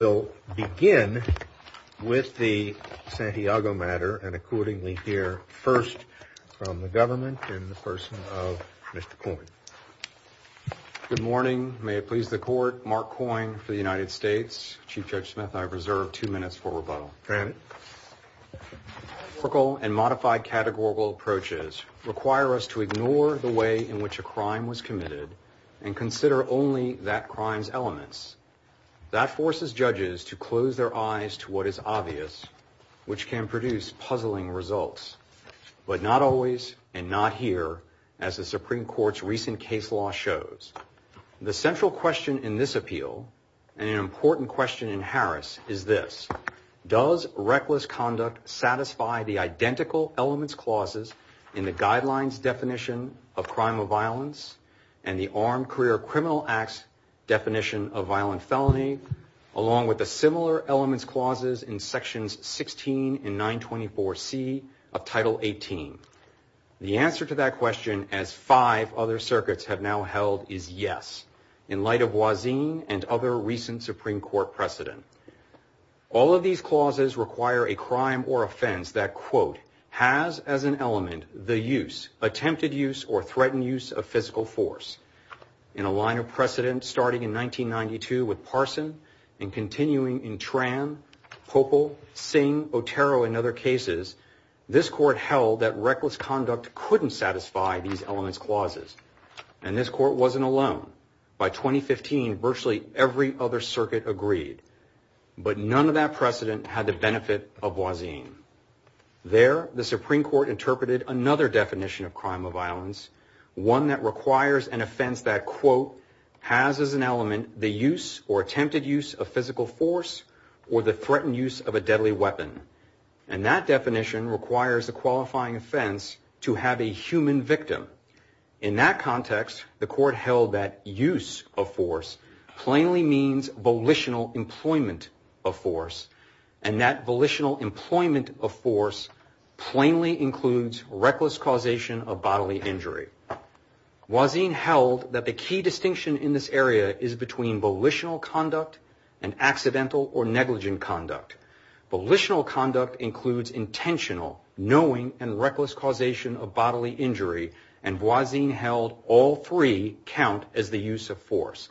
We'll begin with the Santiago matter and accordingly hear first from the government and the person of Mr. Coyne. Good morning. May it please the court, Mark Coyne for the United States. Chief Judge Smith, I reserve two minutes for rebuttal. Go ahead. Historical and modified categorical approaches require us to ignore the way in which a crime was committed and consider only that crime's elements. That forces judges to close their eyes to what is obvious, which can produce puzzling results. But not always, and not here, as the Supreme Court's recent case law shows. The central question in this appeal, and an important question in Harris, is this. Does reckless conduct satisfy the identical elements clauses in the guidelines definition of crime of violence, and the Armed Career Criminal Acts definition of violent felony, along with the similar elements clauses in sections 16 and 924C of Title 18? The answer to that question, as five other circuits have now held, is yes, in light of Wazin and other recent Supreme Court precedent. All of these clauses require a crime or offense that, quote, has as an element the use, attempted use, or threatened use of physical force. In a line of precedent starting in 1992 with Parson, and continuing in Tran, Popol, Singh, Otero, and other cases, this court held that reckless conduct couldn't satisfy these elements clauses. And this court wasn't alone. By 2015, virtually every other circuit agreed. But none of that precedent had the benefit of Wazin. There, the Supreme Court interpreted another definition of crime of violence, one that requires an offense that, quote, has as an element the use or attempted use of physical force or the threatened use of a deadly weapon. And that definition requires a qualifying offense to have a human victim. In that context, the court held that use of force plainly means volitional employment of force. And that volitional employment of force plainly includes reckless causation of bodily injury. Wazin held that the key distinction in this area is between volitional conduct and accidental or negligent conduct. Volitional conduct includes intentional, knowing, and reckless causation of bodily injury. And Wazin held all three count as the use of force.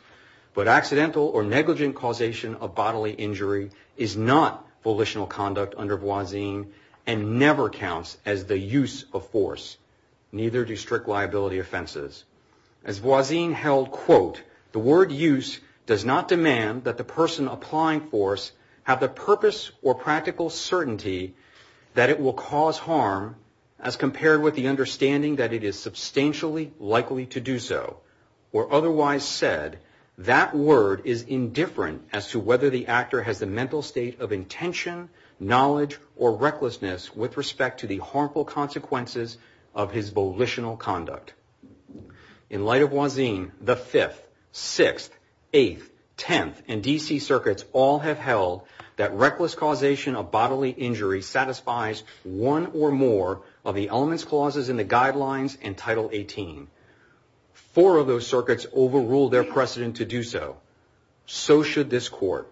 But accidental or negligent causation of bodily injury is not volitional conduct under Wazin and never counts as the use of force. Neither do strict liability offenses. As Wazin held, quote, the word use does not demand that the person applying force have the purpose or practical certainty that it will cause harm as compared with the understanding that it is substantially likely to do so. Or otherwise said, that word is indifferent as to whether the actor has the mental state of intention, knowledge, or recklessness with respect to the harmful consequences of his volitional conduct. In light of Wazin, the 5th, 6th, 8th, 10th, and DC circuits all have held that reckless causation of bodily injury satisfies one or more of the elements clauses in the guidelines in Title 18. Four of those circuits overruled their precedent to do so. So should this court.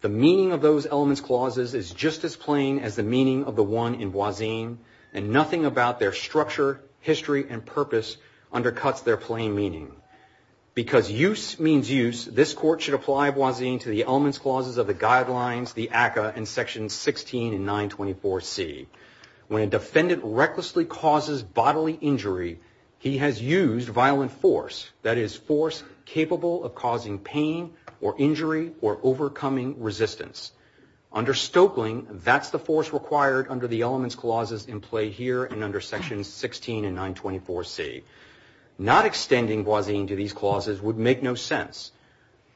The meaning of those elements clauses is just as plain as the meaning of the one in Wazin. And nothing about their structure, history, and purpose undercuts their plain meaning. Because use means use, this court should apply Wazin to the elements clauses of the guidelines, the ACCA, and sections 16 and 924C. When a defendant recklessly causes bodily injury, he has used violent force. That is force capable of causing pain or injury or overcoming resistance. Under Stoeckling, that's the force required under the elements clauses in play here and under sections 16 and 924C. Not extending Wazin to these clauses would make no sense.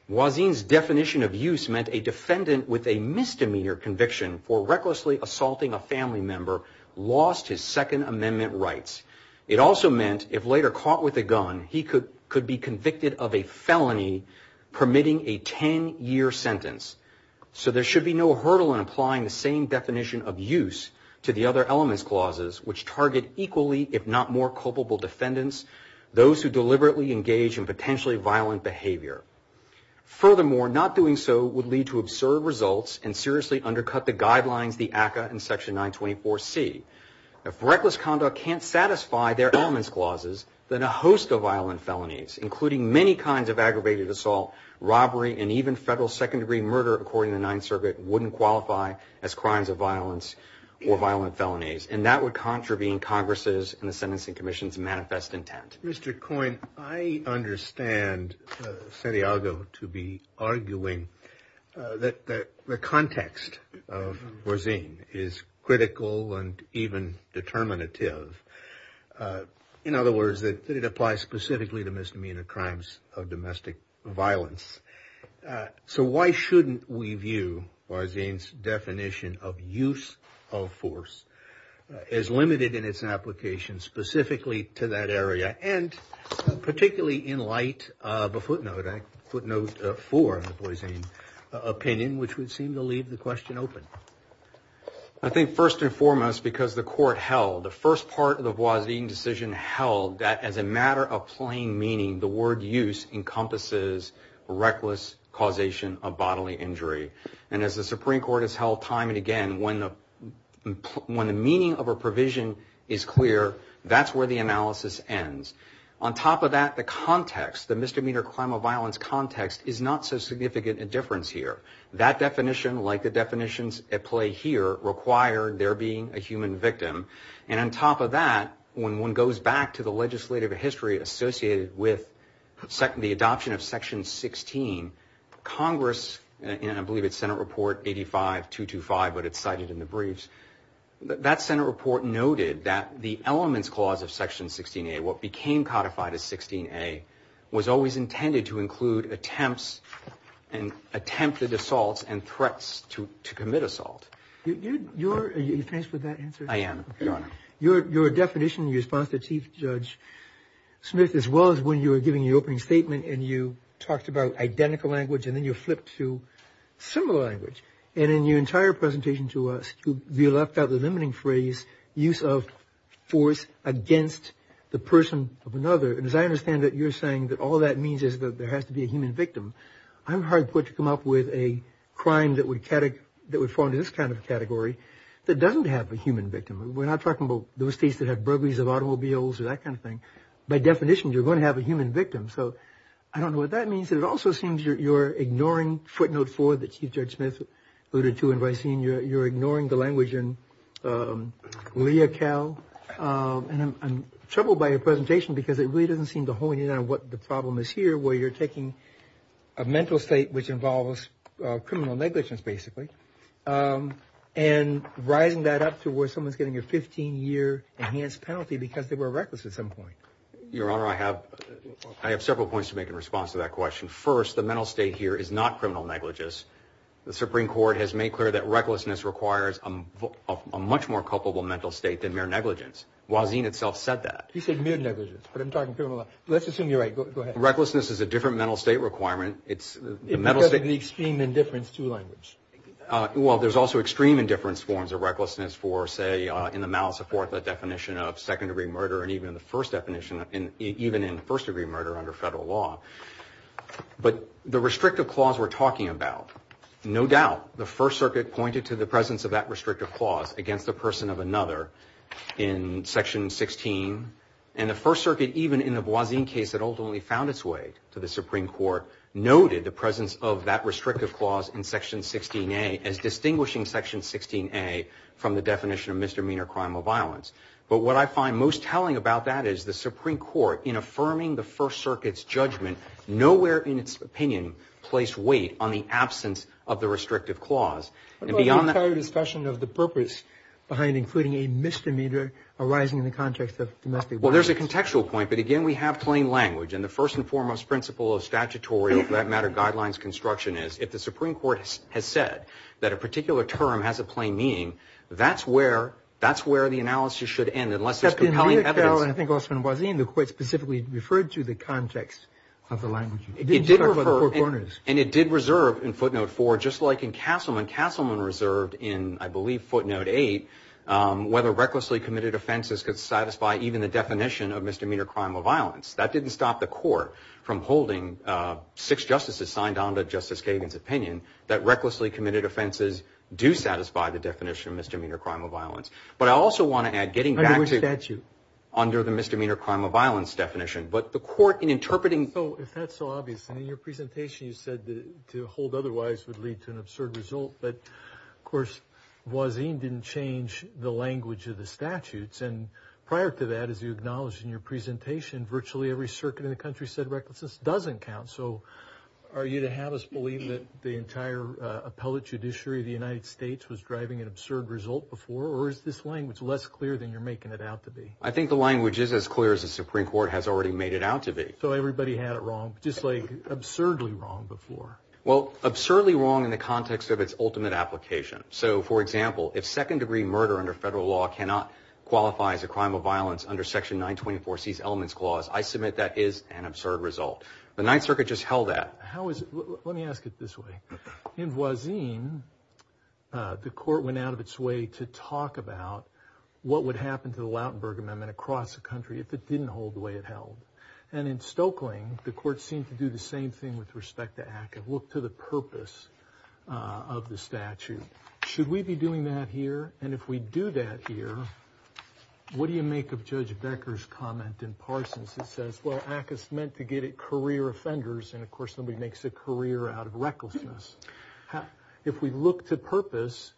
Wazin's definition of use meant a defendant with a misdemeanor conviction for recklessly assaulting a family member lost his Second Amendment rights. It also meant if later caught with a gun, he could be convicted of a felony permitting a 10-year sentence. So there should be no hurdle in applying the same definition of use to the other elements clauses, which target equally, if not more, culpable defendants, those who deliberately engage in potentially violent behavior. Furthermore, not doing so would lead to absurd results and seriously undercut the guidelines, the ACCA, and section 924C. If reckless conduct can't satisfy their elements clauses, then a host of violent felonies, including many kinds of aggravated assault, robbery, and even federal second-degree murder, according to the Ninth Circuit, wouldn't qualify as crimes of violence or violent felonies. And that would contravene Congress's and the Sentencing Commission's manifest intent. Mr. Coyne, I understand Santiago to be arguing that the context of Wazin is critical and even determinative. In other words, that it applies specifically to misdemeanor crimes of domestic violence. So why shouldn't we view Wazin's definition of use of force as limited in its application specifically to that area? And particularly in light of a footnote, footnote 4 in the Wazin opinion, which would seem to leave the question open. I think first and foremost, because the court held, the first part of the Wazin decision held that as a matter of plain meaning, the word use encompasses reckless causation of bodily injury. And as the Supreme Court has held time and again, when the meaning of a provision is clear, that's where the analysis ends. On top of that, the context, the misdemeanor crime of violence context is not so significant a difference here. That definition, like the definitions at play here, require there being a human victim. And on top of that, when one goes back to the legislative history associated with the adoption of Section 16, Congress, and I believe it's Senate Report 85-225, but it's cited in the briefs. That Senate report noted that the elements clause of Section 16A, what became codified as 16A, was always intended to include attempts and attempted assaults and threats to commit assault. Are you faced with that answer? I am, Your Honor. Your definition, your response to Chief Judge Smith, as well as when you were giving the opening statement and you talked about identical language and then you flipped to similar language. And in your entire presentation to us, you left out the limiting phrase, use of force against the person of another. And as I understand it, you're saying that all that means is that there has to be a human victim. I'm hard put to come up with a crime that would fall into this kind of category that doesn't have a human victim. We're not talking about those states that have burglaries of automobiles or that kind of thing. By definition, you're going to have a human victim. So I don't know what that means. And it also seems you're ignoring footnote four that Chief Judge Smith alluded to, and you're ignoring the language in Lea Cal. And I'm troubled by your presentation because it really doesn't seem to hone in on what the problem is here, where you're taking a mental state which involves criminal negligence, basically, and rising that up to where someone's getting a 15-year enhanced penalty because they were reckless at some point. Your Honor, I have several points to make in response to that question. First, the mental state here is not criminal negligence. The Supreme Court has made clear that recklessness requires a much more culpable mental state than mere negligence. Wazin itself said that. He said mere negligence, but I'm talking criminal. Let's assume you're right. Go ahead. Recklessness is a different mental state requirement. It's the mental state. Because of the extreme indifference to language. Well, there's also extreme indifference forms of recklessness for, say, in the malice of fourth-definition of second-degree murder and even in the first-definition, even in first-degree murder under federal law. But the restrictive clause we're talking about, no doubt, the First Circuit pointed to the presence of that restrictive clause against the person of another in Section 16. And the First Circuit, even in the Wazin case that ultimately found its way to the Supreme Court, noted the presence of that restrictive clause in Section 16A as distinguishing Section 16A from the definition of misdemeanor crime or violence. But what I find most telling about that is the Supreme Court, in affirming the First Circuit's judgment, nowhere in its opinion placed weight on the absence of the restrictive clause. What about the entire discussion of the purpose behind including a misdemeanor arising in the context of domestic violence? Well, there's a contextual point. But, again, we have plain language. And the first and foremost principle of statutory, for that matter, guidelines construction is, if the Supreme Court has said that a particular term has a plain meaning, that's where the analysis should end unless there's compelling evidence. But in the account, and I think also in Wazin, the Court specifically referred to the context of the language. It didn't refer to corners. And it did reserve in footnote four, just like in Castleman, Castleman reserved in, I believe, footnote eight, whether recklessly committed offenses could satisfy even the definition of misdemeanor crime or violence. That didn't stop the Court from holding six justices signed on to Justice Kagan's opinion that recklessly committed offenses do satisfy the definition of misdemeanor crime or violence. But I also want to add, getting back to- Under which statute? Under the misdemeanor crime or violence definition. But the Court, in interpreting- Oh, if that's so obvious. And in your presentation, you said that to hold otherwise would lead to an absurd result. But, of course, Wazin didn't change the language of the statutes. And prior to that, as you acknowledged in your presentation, virtually every circuit in the country said recklessness doesn't count. So are you to have us believe that the entire appellate judiciary of the United States was driving an absurd result before? Or is this language less clear than you're making it out to be? I think the language is as clear as the Supreme Court has already made it out to be. So everybody had it wrong, just like absurdly wrong before. Well, absurdly wrong in the context of its ultimate application. So, for example, if second-degree murder under federal law cannot qualify as a crime of violence under Section 924C's elements clause, I submit that is an absurd result. The Ninth Circuit just held that. How is it- Let me ask it this way. In Wazin, the Court went out of its way to talk about what would happen to the Lautenberg Amendment across the country if it didn't hold the way it held. And in Stokeling, the Court seemed to do the same thing with respect to ACCA. Look to the purpose of the statute. Should we be doing that here? And if we do that here, what do you make of Judge Becker's comment in Parsons that says, well, ACCA's meant to get at career offenders, and, of course, nobody makes a career out of recklessness. If we look to purpose,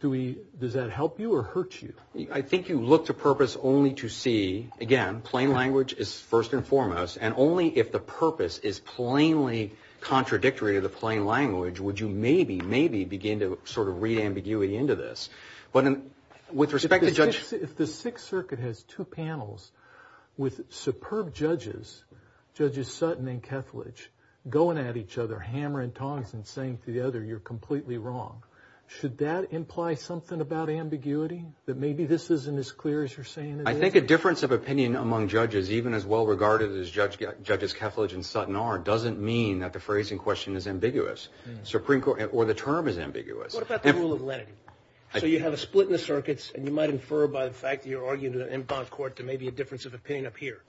does that help you or hurt you? I think you look to purpose only to see, again, plain language is first and foremost, and only if the purpose is plainly contradictory to the plain language would you maybe, maybe begin to sort of read ambiguity into this. But with respect to Judge- If the Sixth Circuit has two panels with superb judges, Judges Sutton and Kethledge, going at each other, hammering tongs and saying to the other, you're completely wrong, should that imply something about ambiguity, that maybe this isn't as clear as you're saying it is? I think a difference of opinion among judges, even as well regarded as Judges Kethledge and Sutton are, doesn't mean that the phrasing question is ambiguous. Or the term is ambiguous. What about the rule of lenity? So you have a split in the circuits, and you might infer by the fact that you're arguing in bond court there may be a difference of opinion up here.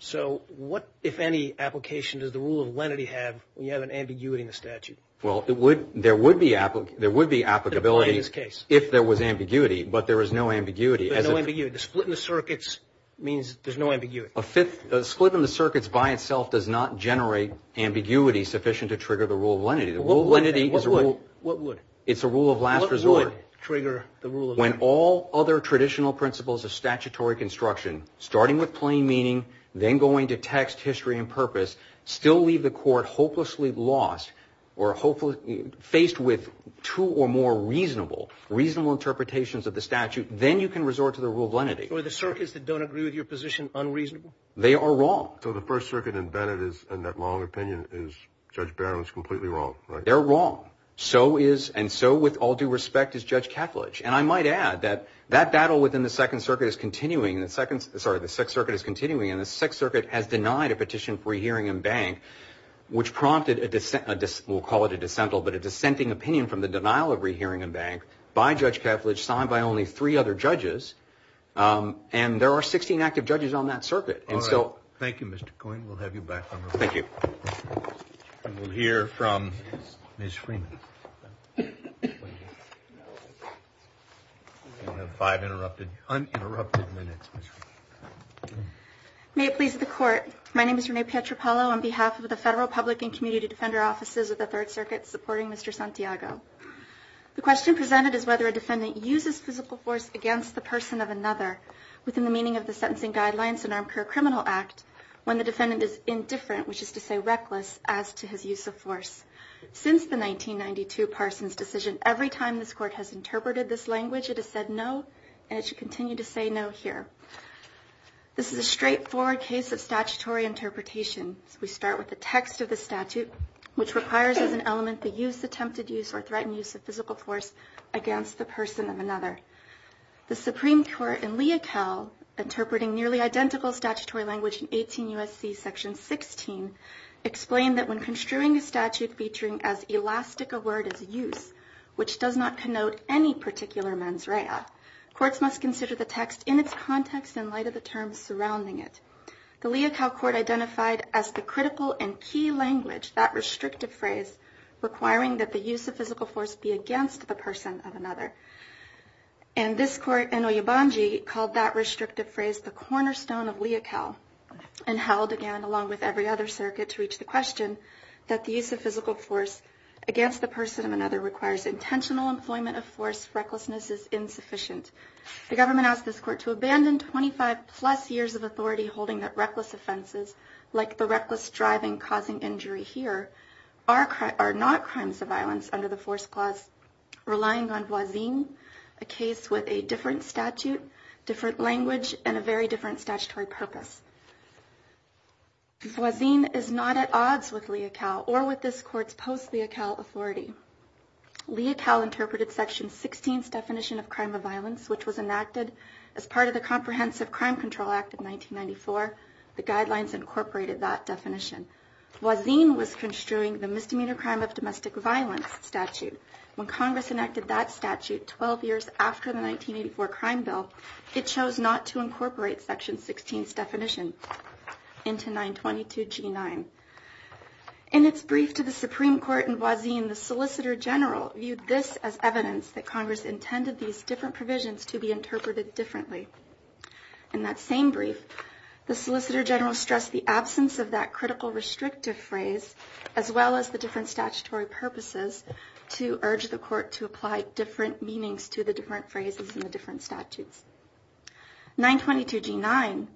So what, if any, application does the rule of lenity have when you have an ambiguity in the statute? Well, there would be applicability if there was ambiguity, but there is no ambiguity. There's no ambiguity. The split in the circuits means there's no ambiguity. A split in the circuits by itself does not generate ambiguity sufficient to trigger the rule of lenity. What would? It's a rule of last resort. What would trigger the rule of lenity? When all other traditional principles of statutory construction, starting with plain meaning, then going to text, history, and purpose, still leave the court hopelessly lost or faced with two or more reasonable interpretations of the statute, then you can resort to the rule of lenity. So are the circuits that don't agree with your position unreasonable? They are wrong. So the First Circuit in Bennett is, in that long opinion, is Judge Barrow is completely wrong, right? They're wrong. So is, and so with all due respect, is Judge Kethledge. And I might add that that battle within the Second Circuit is continuing, and the Second, sorry, the Sixth Circuit is continuing, and the Sixth Circuit has denied a petition for re-hearing in Bank, which prompted a, we'll call it a dissental, but a dissenting opinion from the denial of re-hearing in Bank by Judge Kethledge, signed by only three other judges, and there are 16 active judges on that circuit. All right. Thank you, Mr. Coyne. We'll have you back on the floor. Thank you. And we'll hear from Ms. Freeman. We'll have five uninterrupted minutes, Ms. Freeman. May it please the Court. My name is Renee Pietropalo on behalf of the Federal Public and Community Defender offices of the Third Circuit supporting Mr. Santiago. The question presented is whether a defendant uses physical force against the person of another within the meaning of the Sentencing Guidelines and Armed Career Criminal Act when the defendant is indifferent, which is to say reckless, as to his use of force. Since the 1992 Parsons decision, every time this Court has interpreted this language, it has said no, and it should continue to say no here. This is a straightforward case of statutory interpretation. We start with the text of the statute, which requires as an element the use, attempted use, or threatened use of physical force against the person of another. The Supreme Court in Lea Cal, interpreting nearly identical statutory language in 18 U.S.C. Section 16, explained that when construing a statute featuring as elastic a word as use, which does not connote any particular mens rea, courts must consider the text in its context in light of the terms surrounding it. The Lea Cal Court identified as the critical and key language that restrictive phrase requiring that the use of physical force be against the person of another. And this Court in Oyobanji called that restrictive phrase the cornerstone of Lea Cal and held, again, along with every other circuit to reach the question, that the use of physical force against the person of another requires intentional employment of force. Recklessness is insufficient. The government asked this Court to abandon 25-plus years of authority holding that reckless offenses, like the reckless driving causing injury here, are not crimes of violence under the force clause, relying on voisine, a case with a different statute, different language, and a very different statutory purpose. Voisine is not at odds with Lea Cal or with this Court's post-Lea Cal authority. Lea Cal interpreted Section 16's definition of crime of violence, which was enacted as part of the Comprehensive Crime Control Act of 1994. The guidelines incorporated that definition. Voisine was construing the Misdemeanor Crime of Domestic Violence statute. When Congress enacted that statute 12 years after the 1984 crime bill, it chose not to incorporate Section 16's definition into 922G9. In its brief to the Supreme Court in Voisine, the Solicitor General viewed this as evidence that Congress intended these different provisions to be interpreted differently. In that same brief, the Solicitor General stressed the absence of that critical, restrictive phrase, as well as the different statutory purposes, to urge the Court to apply different meanings to the different phrases and the different statutes. 922G9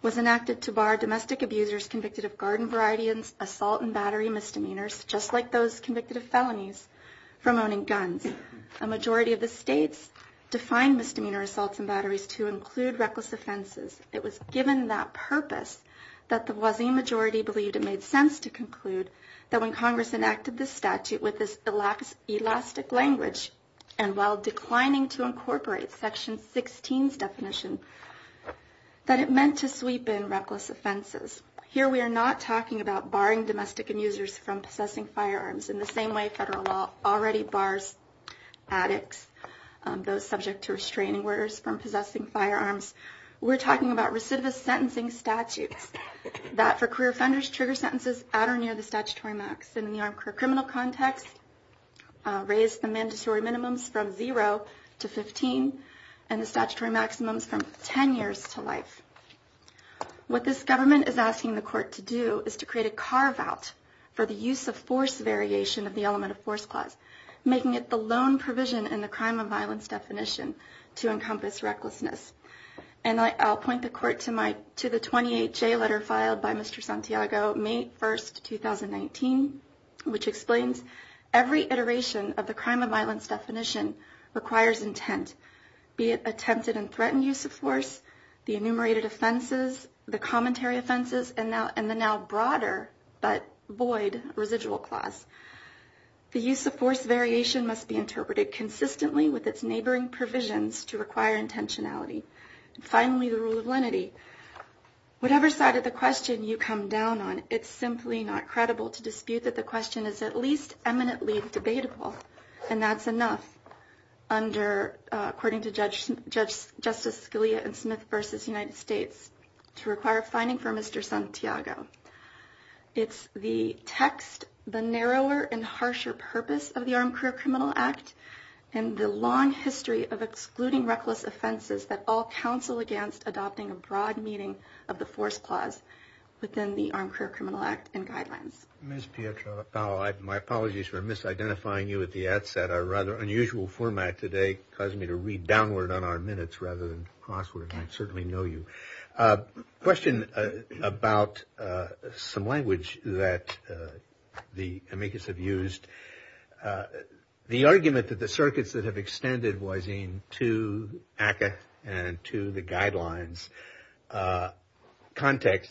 was enacted to bar domestic abusers convicted of garden variety assault and battery misdemeanors, just like those convicted of felonies from owning guns. A majority of the states defined misdemeanor assaults and batteries to include reckless offenses. It was given that purpose that the Voisine majority believed it made sense to conclude that when Congress enacted this statute with this elastic language and while declining to incorporate Section 16's definition, that it meant to sweep in reckless offenses. Here we are not talking about barring domestic abusers from possessing firearms in the same way federal law already bars addicts, those subject to restraining orders, from possessing firearms. We're talking about recidivist sentencing statutes that for queer offenders trigger sentences at or near the statutory max. In the criminal context, raise the mandatory minimums from 0 to 15 and the statutory maximums from 10 years to life. What this government is asking the Court to do is to create a carve-out for the use of force variation of the element of force clause, making it the lone provision in the crime of violence definition to encompass recklessness. And I'll point the Court to the 28-J letter filed by Mr. Santiago, May 1, 2019, which explains every iteration of the crime of violence definition requires intent, be it attempted and threatened use of force, the enumerated offenses, the commentary offenses, and the now broader but void residual clause. The use of force variation must be interpreted consistently with its neighboring provisions to require intentionality. Finally, the rule of lenity. Whatever side of the question you come down on, it's simply not credible to dispute that the question is at least eminently debatable, and that's enough, according to Judge Justice Scalia in Smith v. United States, to require a finding from Mr. Santiago. It's the text, the narrower and harsher purpose of the Armed Career Criminal Act and the long history of excluding reckless offenses that all counsel against adopting a broad meaning of the force clause within the Armed Career Criminal Act and guidelines. Ms. Pietropalo, my apologies for misidentifying you at the outset. Our rather unusual format today caused me to read downward on our minutes rather than crossword, and I certainly know you. Question about some language that the amicus have used. The argument that the circuits that have extended Boisean to ACCA and to the guidelines context,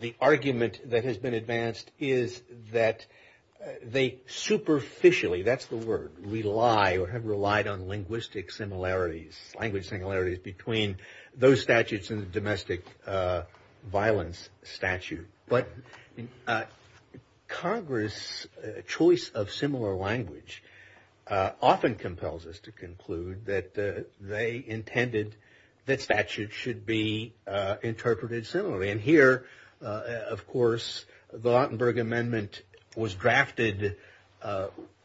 the argument that has been advanced is that they superficially, that's the word, rely or have relied on linguistic similarities, language similarities between those statutes and the domestic violence statute. But Congress' choice of similar language often compels us to conclude that they intended that statutes should be interpreted similarly. And here, of course, the Lautenberg Amendment was drafted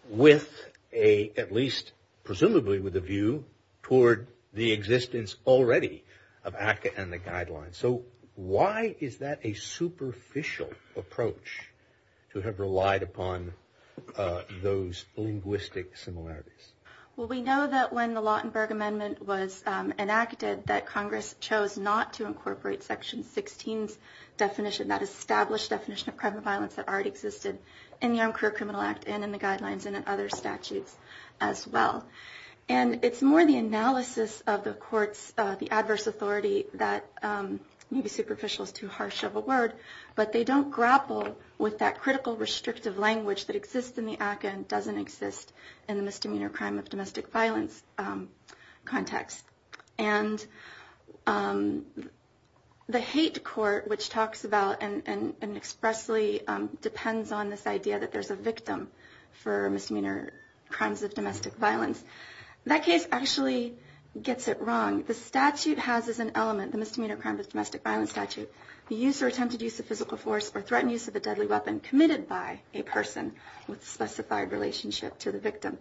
with a, at least presumably with a view toward the existence already of ACCA and the guidelines. So why is that a superficial approach to have relied upon those linguistic similarities? Well, we know that when the Lautenberg Amendment was enacted, that Congress chose not to incorporate Section 16's definition, that established definition of crime and violence that already existed in the Armed Career Criminal Act and in the guidelines and in other statutes as well. And it's more the analysis of the courts, the adverse authority that, maybe superficial is too harsh of a word, but they don't grapple with that critical, restrictive language that exists in the ACCA and doesn't exist in the misdemeanor crime of domestic violence context. And the hate court, which talks about and expressly depends on this idea that there's a victim for misdemeanor crimes of domestic violence. That case actually gets it wrong. The statute has as an element, the misdemeanor crime of domestic violence statute, the use or attempted use of physical force or threatened use of a deadly weapon committed by a person with specified relationship to the victim.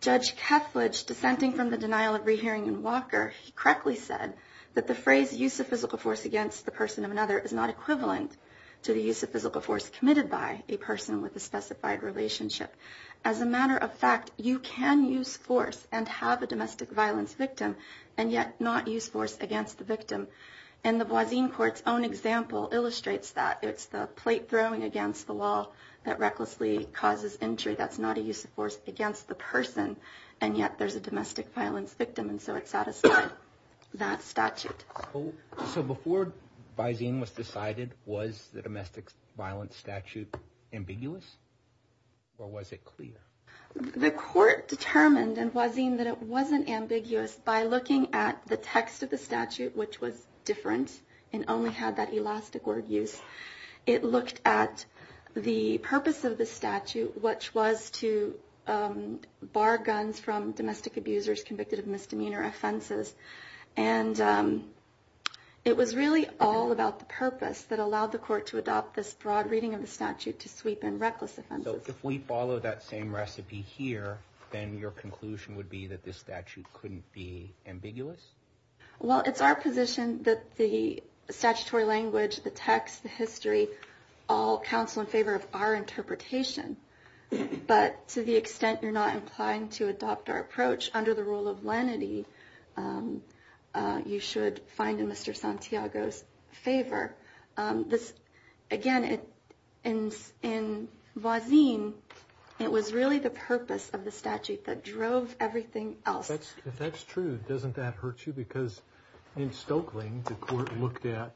Judge Kethledge, dissenting from the denial of rehearing in Walker, correctly said that the phrase use of physical force against the person of another is not equivalent to the use of physical force committed by a person with a specified relationship. As a matter of fact, you can use force and have a domestic violence victim and yet not use force against the victim. And the Boisin court's own example illustrates that. It's the plate throwing against the wall that recklessly causes injury. That's not a use of force against the person, and yet there's a domestic violence victim. And so it satisfies that statute. So before Boisin was decided, was the domestic violence statute ambiguous? Or was it clear? The court determined in Boisin that it wasn't ambiguous by looking at the text of the statute, which was different and only had that elastic word use. It looked at the purpose of the statute, which was to bar guns from domestic abusers convicted of misdemeanor offenses. And it was really all about the purpose that allowed the court to adopt this broad reading of the statute to sweep in reckless offenses. So if we follow that same recipe here, then your conclusion would be that this statute couldn't be ambiguous? Well, it's our position that the statutory language, the text, the history, all counsel in favor of our interpretation. Which, under the rule of lenity, you should find in Mr. Santiago's favor. Again, in Boisin, it was really the purpose of the statute that drove everything else. If that's true, doesn't that hurt you? Because in Stokely, the court looked at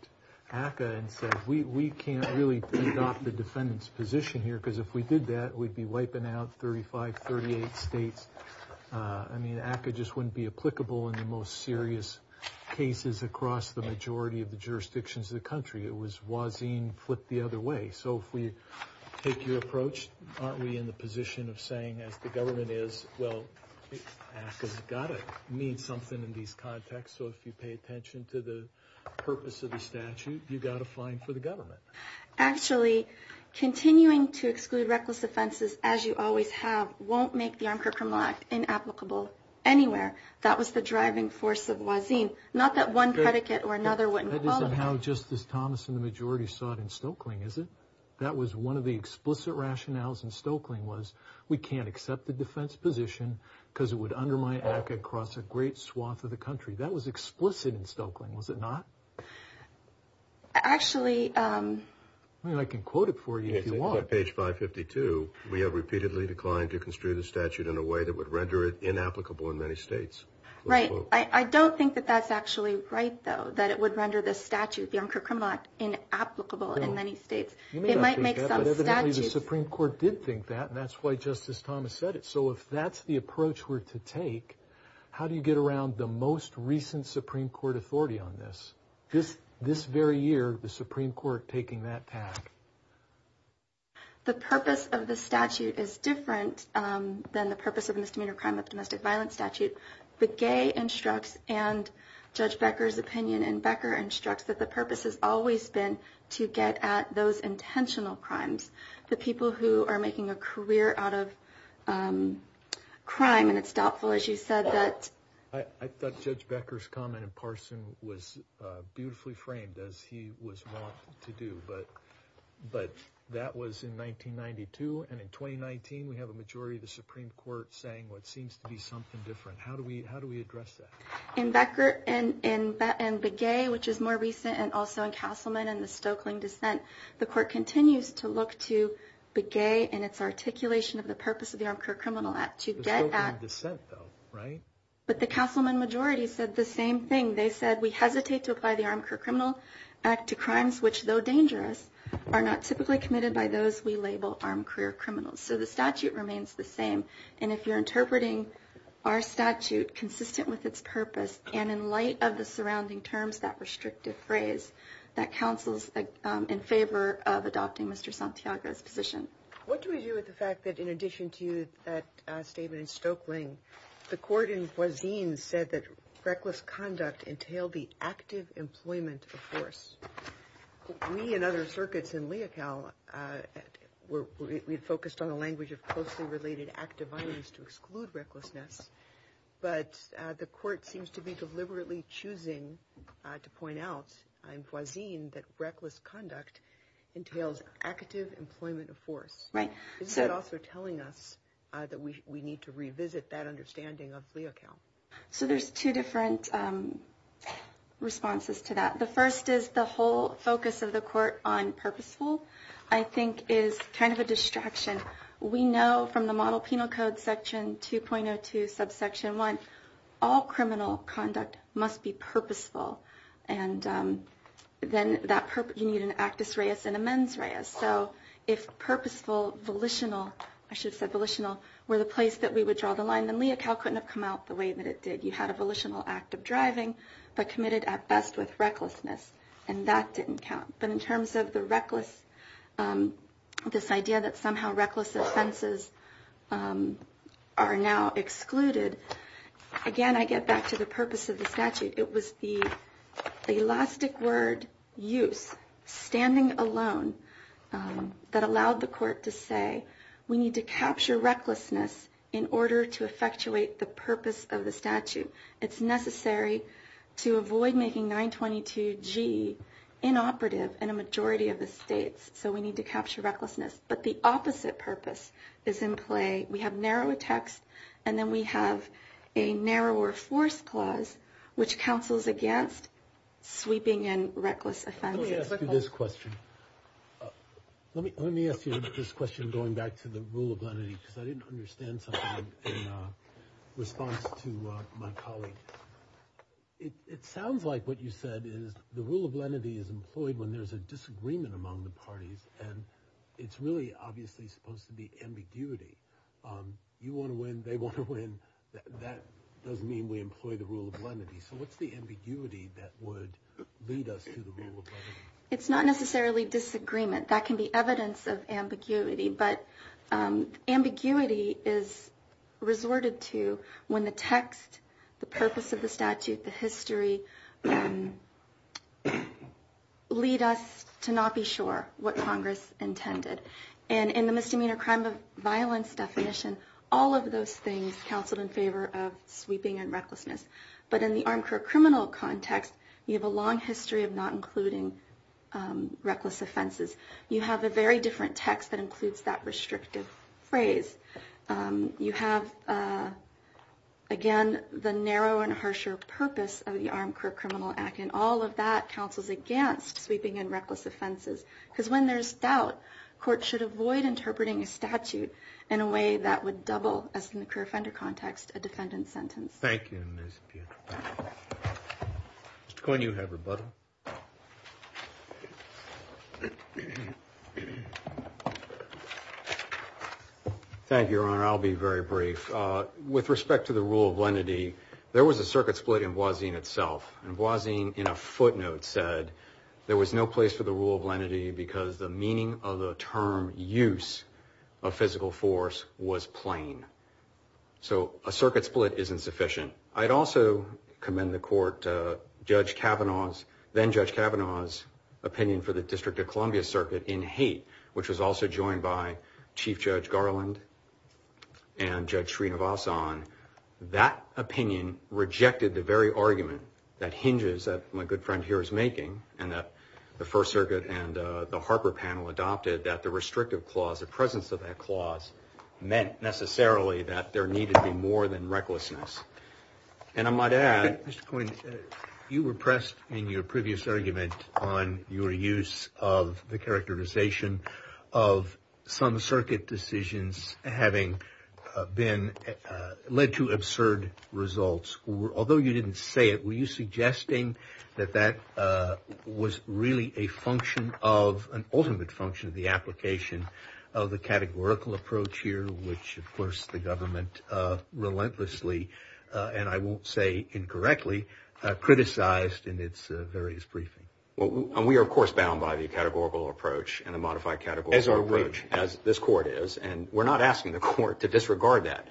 ACCA and said, we can't really adopt the defendant's position here, because if we did that, we'd be wiping out 35, 38 states. I mean, ACCA just wouldn't be applicable in the most serious cases across the majority of the jurisdictions of the country. It was Boisin flipped the other way. So if we take your approach, aren't we in the position of saying, as the government is, well, ACCA's got to mean something in these contexts. So if you pay attention to the purpose of the statute, you've got a fine for the government. Actually, continuing to exclude reckless offenses, as you always have, won't make the Armed Criminal Act inapplicable anywhere. That was the driving force of Boisin. Not that one predicate or another wouldn't qualify. That isn't how Justice Thomas and the majority saw it in Stokely, is it? That was one of the explicit rationales in Stokely was, we can't accept the defense position, because it would undermine ACCA across a great swath of the country. That was explicit in Stokely, was it not? Actually... I mean, I can quote it for you if you want. If you look at page 552, we have repeatedly declined to construe the statute in a way that would render it inapplicable in many states. Right. I don't think that that's actually right, though, that it would render the statute, the Armed Criminal Act, inapplicable in many states. You may not think that, but evidently the Supreme Court did think that, and that's why Justice Thomas said it. So if that's the approach we're to take, how do you get around the most recent Supreme Court authority on this, this very year, the Supreme Court taking that task? The purpose of the statute is different than the purpose of misdemeanor crime of the domestic violence statute. Begay instructs, and Judge Becker's opinion, and Becker instructs that the purpose has always been to get at those intentional crimes, the people who are making a career out of crime, and it's doubtful, as you said, that... I thought Judge Becker's comment in Parson was beautifully framed, as he was wont to do, but that was in 1992, and in 2019, we have a majority of the Supreme Court saying what seems to be something different. How do we address that? In Becker and Begay, which is more recent, and also in Castleman and the Stokeling dissent, the Court continues to look to Begay and its articulation of the purpose of the Armed Criminal Act to get at... The Stokeling dissent, though, right? But the Castleman majority said the same thing. They said, we hesitate to apply the Armed Criminal Act to crimes which, though dangerous, are not typically committed by those we label armed career criminals. So the statute remains the same, and if you're interpreting our statute consistent with its purpose, and in light of the surrounding terms, that restrictive phrase, that counsels in favor of adopting Mr. Santiago's position. What do we do with the fact that, in addition to that statement in Stokeling, the court in Foisine said that reckless conduct entailed the active employment of force. We, in other circuits in Leocal, we focused on a language of closely related active violence to exclude recklessness, but the court seems to be deliberately choosing to point out, Is that also telling us that we need to revisit that understanding of Leocal? So there's two different responses to that. The first is the whole focus of the court on purposeful, I think is kind of a distraction. We know from the model penal code section 2.02 subsection 1, all criminal conduct must be purposeful, and then you need an actus reus and a mens reus. So if purposeful, volitional, I should have said volitional, were the place that we would draw the line, then Leocal couldn't have come out the way that it did. You had a volitional act of driving, but committed at best with recklessness, and that didn't count. But in terms of the reckless, this idea that somehow reckless offenses are now excluded, again, I get back to the purpose of the statute. It was the elastic word use, standing alone, that allowed the court to say we need to capture recklessness in order to effectuate the purpose of the statute. It's necessary to avoid making 922G inoperative in a majority of the states, so we need to capture recklessness. But the opposite purpose is in play. We have narrower text, and then we have a narrower force clause, which counsels against sweeping in reckless offenses. Let me ask you this question. Let me ask you this question going back to the rule of lenity, because I didn't understand something in response to my colleague. It sounds like what you said is the rule of lenity is employed when there's a disagreement among the parties, and it's really obviously supposed to be ambiguity. You want to win, they want to win. That doesn't mean we employ the rule of lenity. So what's the ambiguity that would lead us to the rule of lenity? It's not necessarily disagreement. That can be evidence of ambiguity, but ambiguity is resorted to when the text, the purpose of the statute, the history lead us to not be sure what Congress intended. And in the misdemeanor crime of violence definition, all of those things counseled in favor of sweeping and recklessness. But in the armchair criminal context, you have a long history of not including reckless offenses. You have a very different text that includes that restrictive phrase. You have, again, the narrow and harsher purpose of the armchair criminal act, and all of that counsels against sweeping and reckless offenses, because when there's doubt, court should avoid interpreting a statute in a way that would double, as in the career offender context, a defendant's sentence. Thank you, Ms. Pietro. Mr. Coyne, you have rebuttal. Thank you, Your Honor. I'll be very brief. With respect to the rule of lenity, there was a circuit split in Boisin itself, and Boisin in a footnote said there was no place for the rule of lenity because the meaning of the term use of physical force was plain. So a circuit split isn't sufficient. I'd also commend the court to Judge Kavanaugh's, then-Judge Kavanaugh's opinion for the District of Columbia Circuit in Haight, which was also joined by Chief Judge Garland and Judge Srinivasan. That opinion rejected the very argument that hinges that my good friend here is making, and that the First Circuit and the Harper panel adopted that the restrictive clause, the presence of that clause, meant necessarily that there needed to be more than recklessness. And I might add— Mr. Coyne, you were pressed in your previous argument on your use of the characterization of some circuit decisions having been led to absurd results. Although you didn't say it, were you suggesting that that was really a function of— an ultimate function of the application of the categorical approach here, which, of course, the government relentlessly, and I won't say incorrectly, criticized in its various briefings? We are, of course, bound by the categorical approach and the modified categorical approach, as this Court is, and we're not asking the Court to disregard that.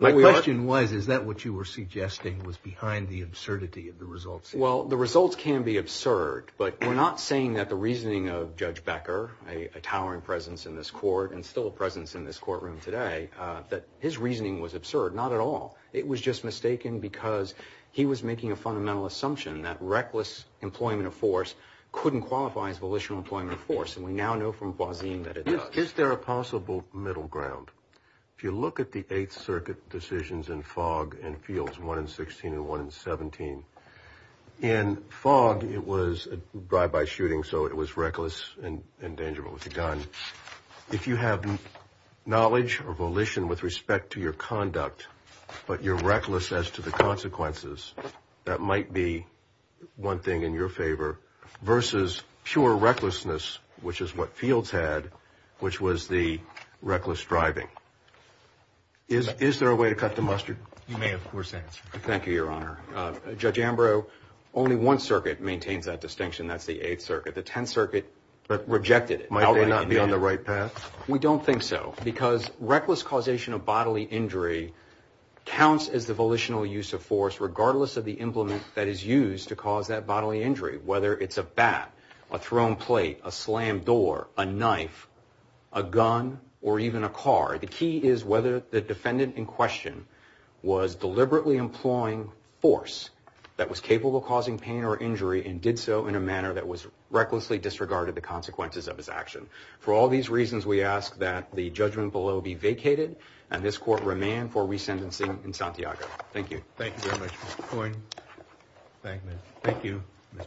My question was, is that what you were suggesting was behind the absurdity of the results? Well, the results can be absurd, but we're not saying that the reasoning of Judge Becker, a towering presence in this Court and still a presence in this courtroom today, that his reasoning was absurd. Not at all. It was just mistaken because he was making a fundamental assumption that reckless employment of force couldn't qualify as volitional employment of force, and we now know from Boisin that it does. Is there a possible middle ground? If you look at the Eighth Circuit decisions in Fogg and Fields, one in 16 and one in 17, in Fogg it was a drive-by shooting, so it was reckless and dangerous with a gun. If you have knowledge or volition with respect to your conduct, but you're reckless as to the consequences, that might be one thing in your favor, versus pure recklessness, which is what Fields had, which was the reckless driving. Is there a way to cut the mustard? You may, of course, answer. Thank you, Your Honor. Judge Ambrose, only one circuit maintains that distinction, and that's the Eighth Circuit. The Tenth Circuit rejected it. Might they not be on the right path? We don't think so because reckless causation of bodily injury counts as the volitional use of force regardless of the implement that is used to cause that bodily injury, whether it's a bat, a thrown plate, a slammed door, a knife, a gun, or even a car. The key is whether the defendant in question was deliberately employing force that was capable of causing pain or injury and did so in a manner that was recklessly disregarded the consequences of his action. For all these reasons, we ask that the judgment below be vacated, and this Court remand for resentencing in Santiago. Thank you. Thank you very much, Mr. Coyne. Thank you.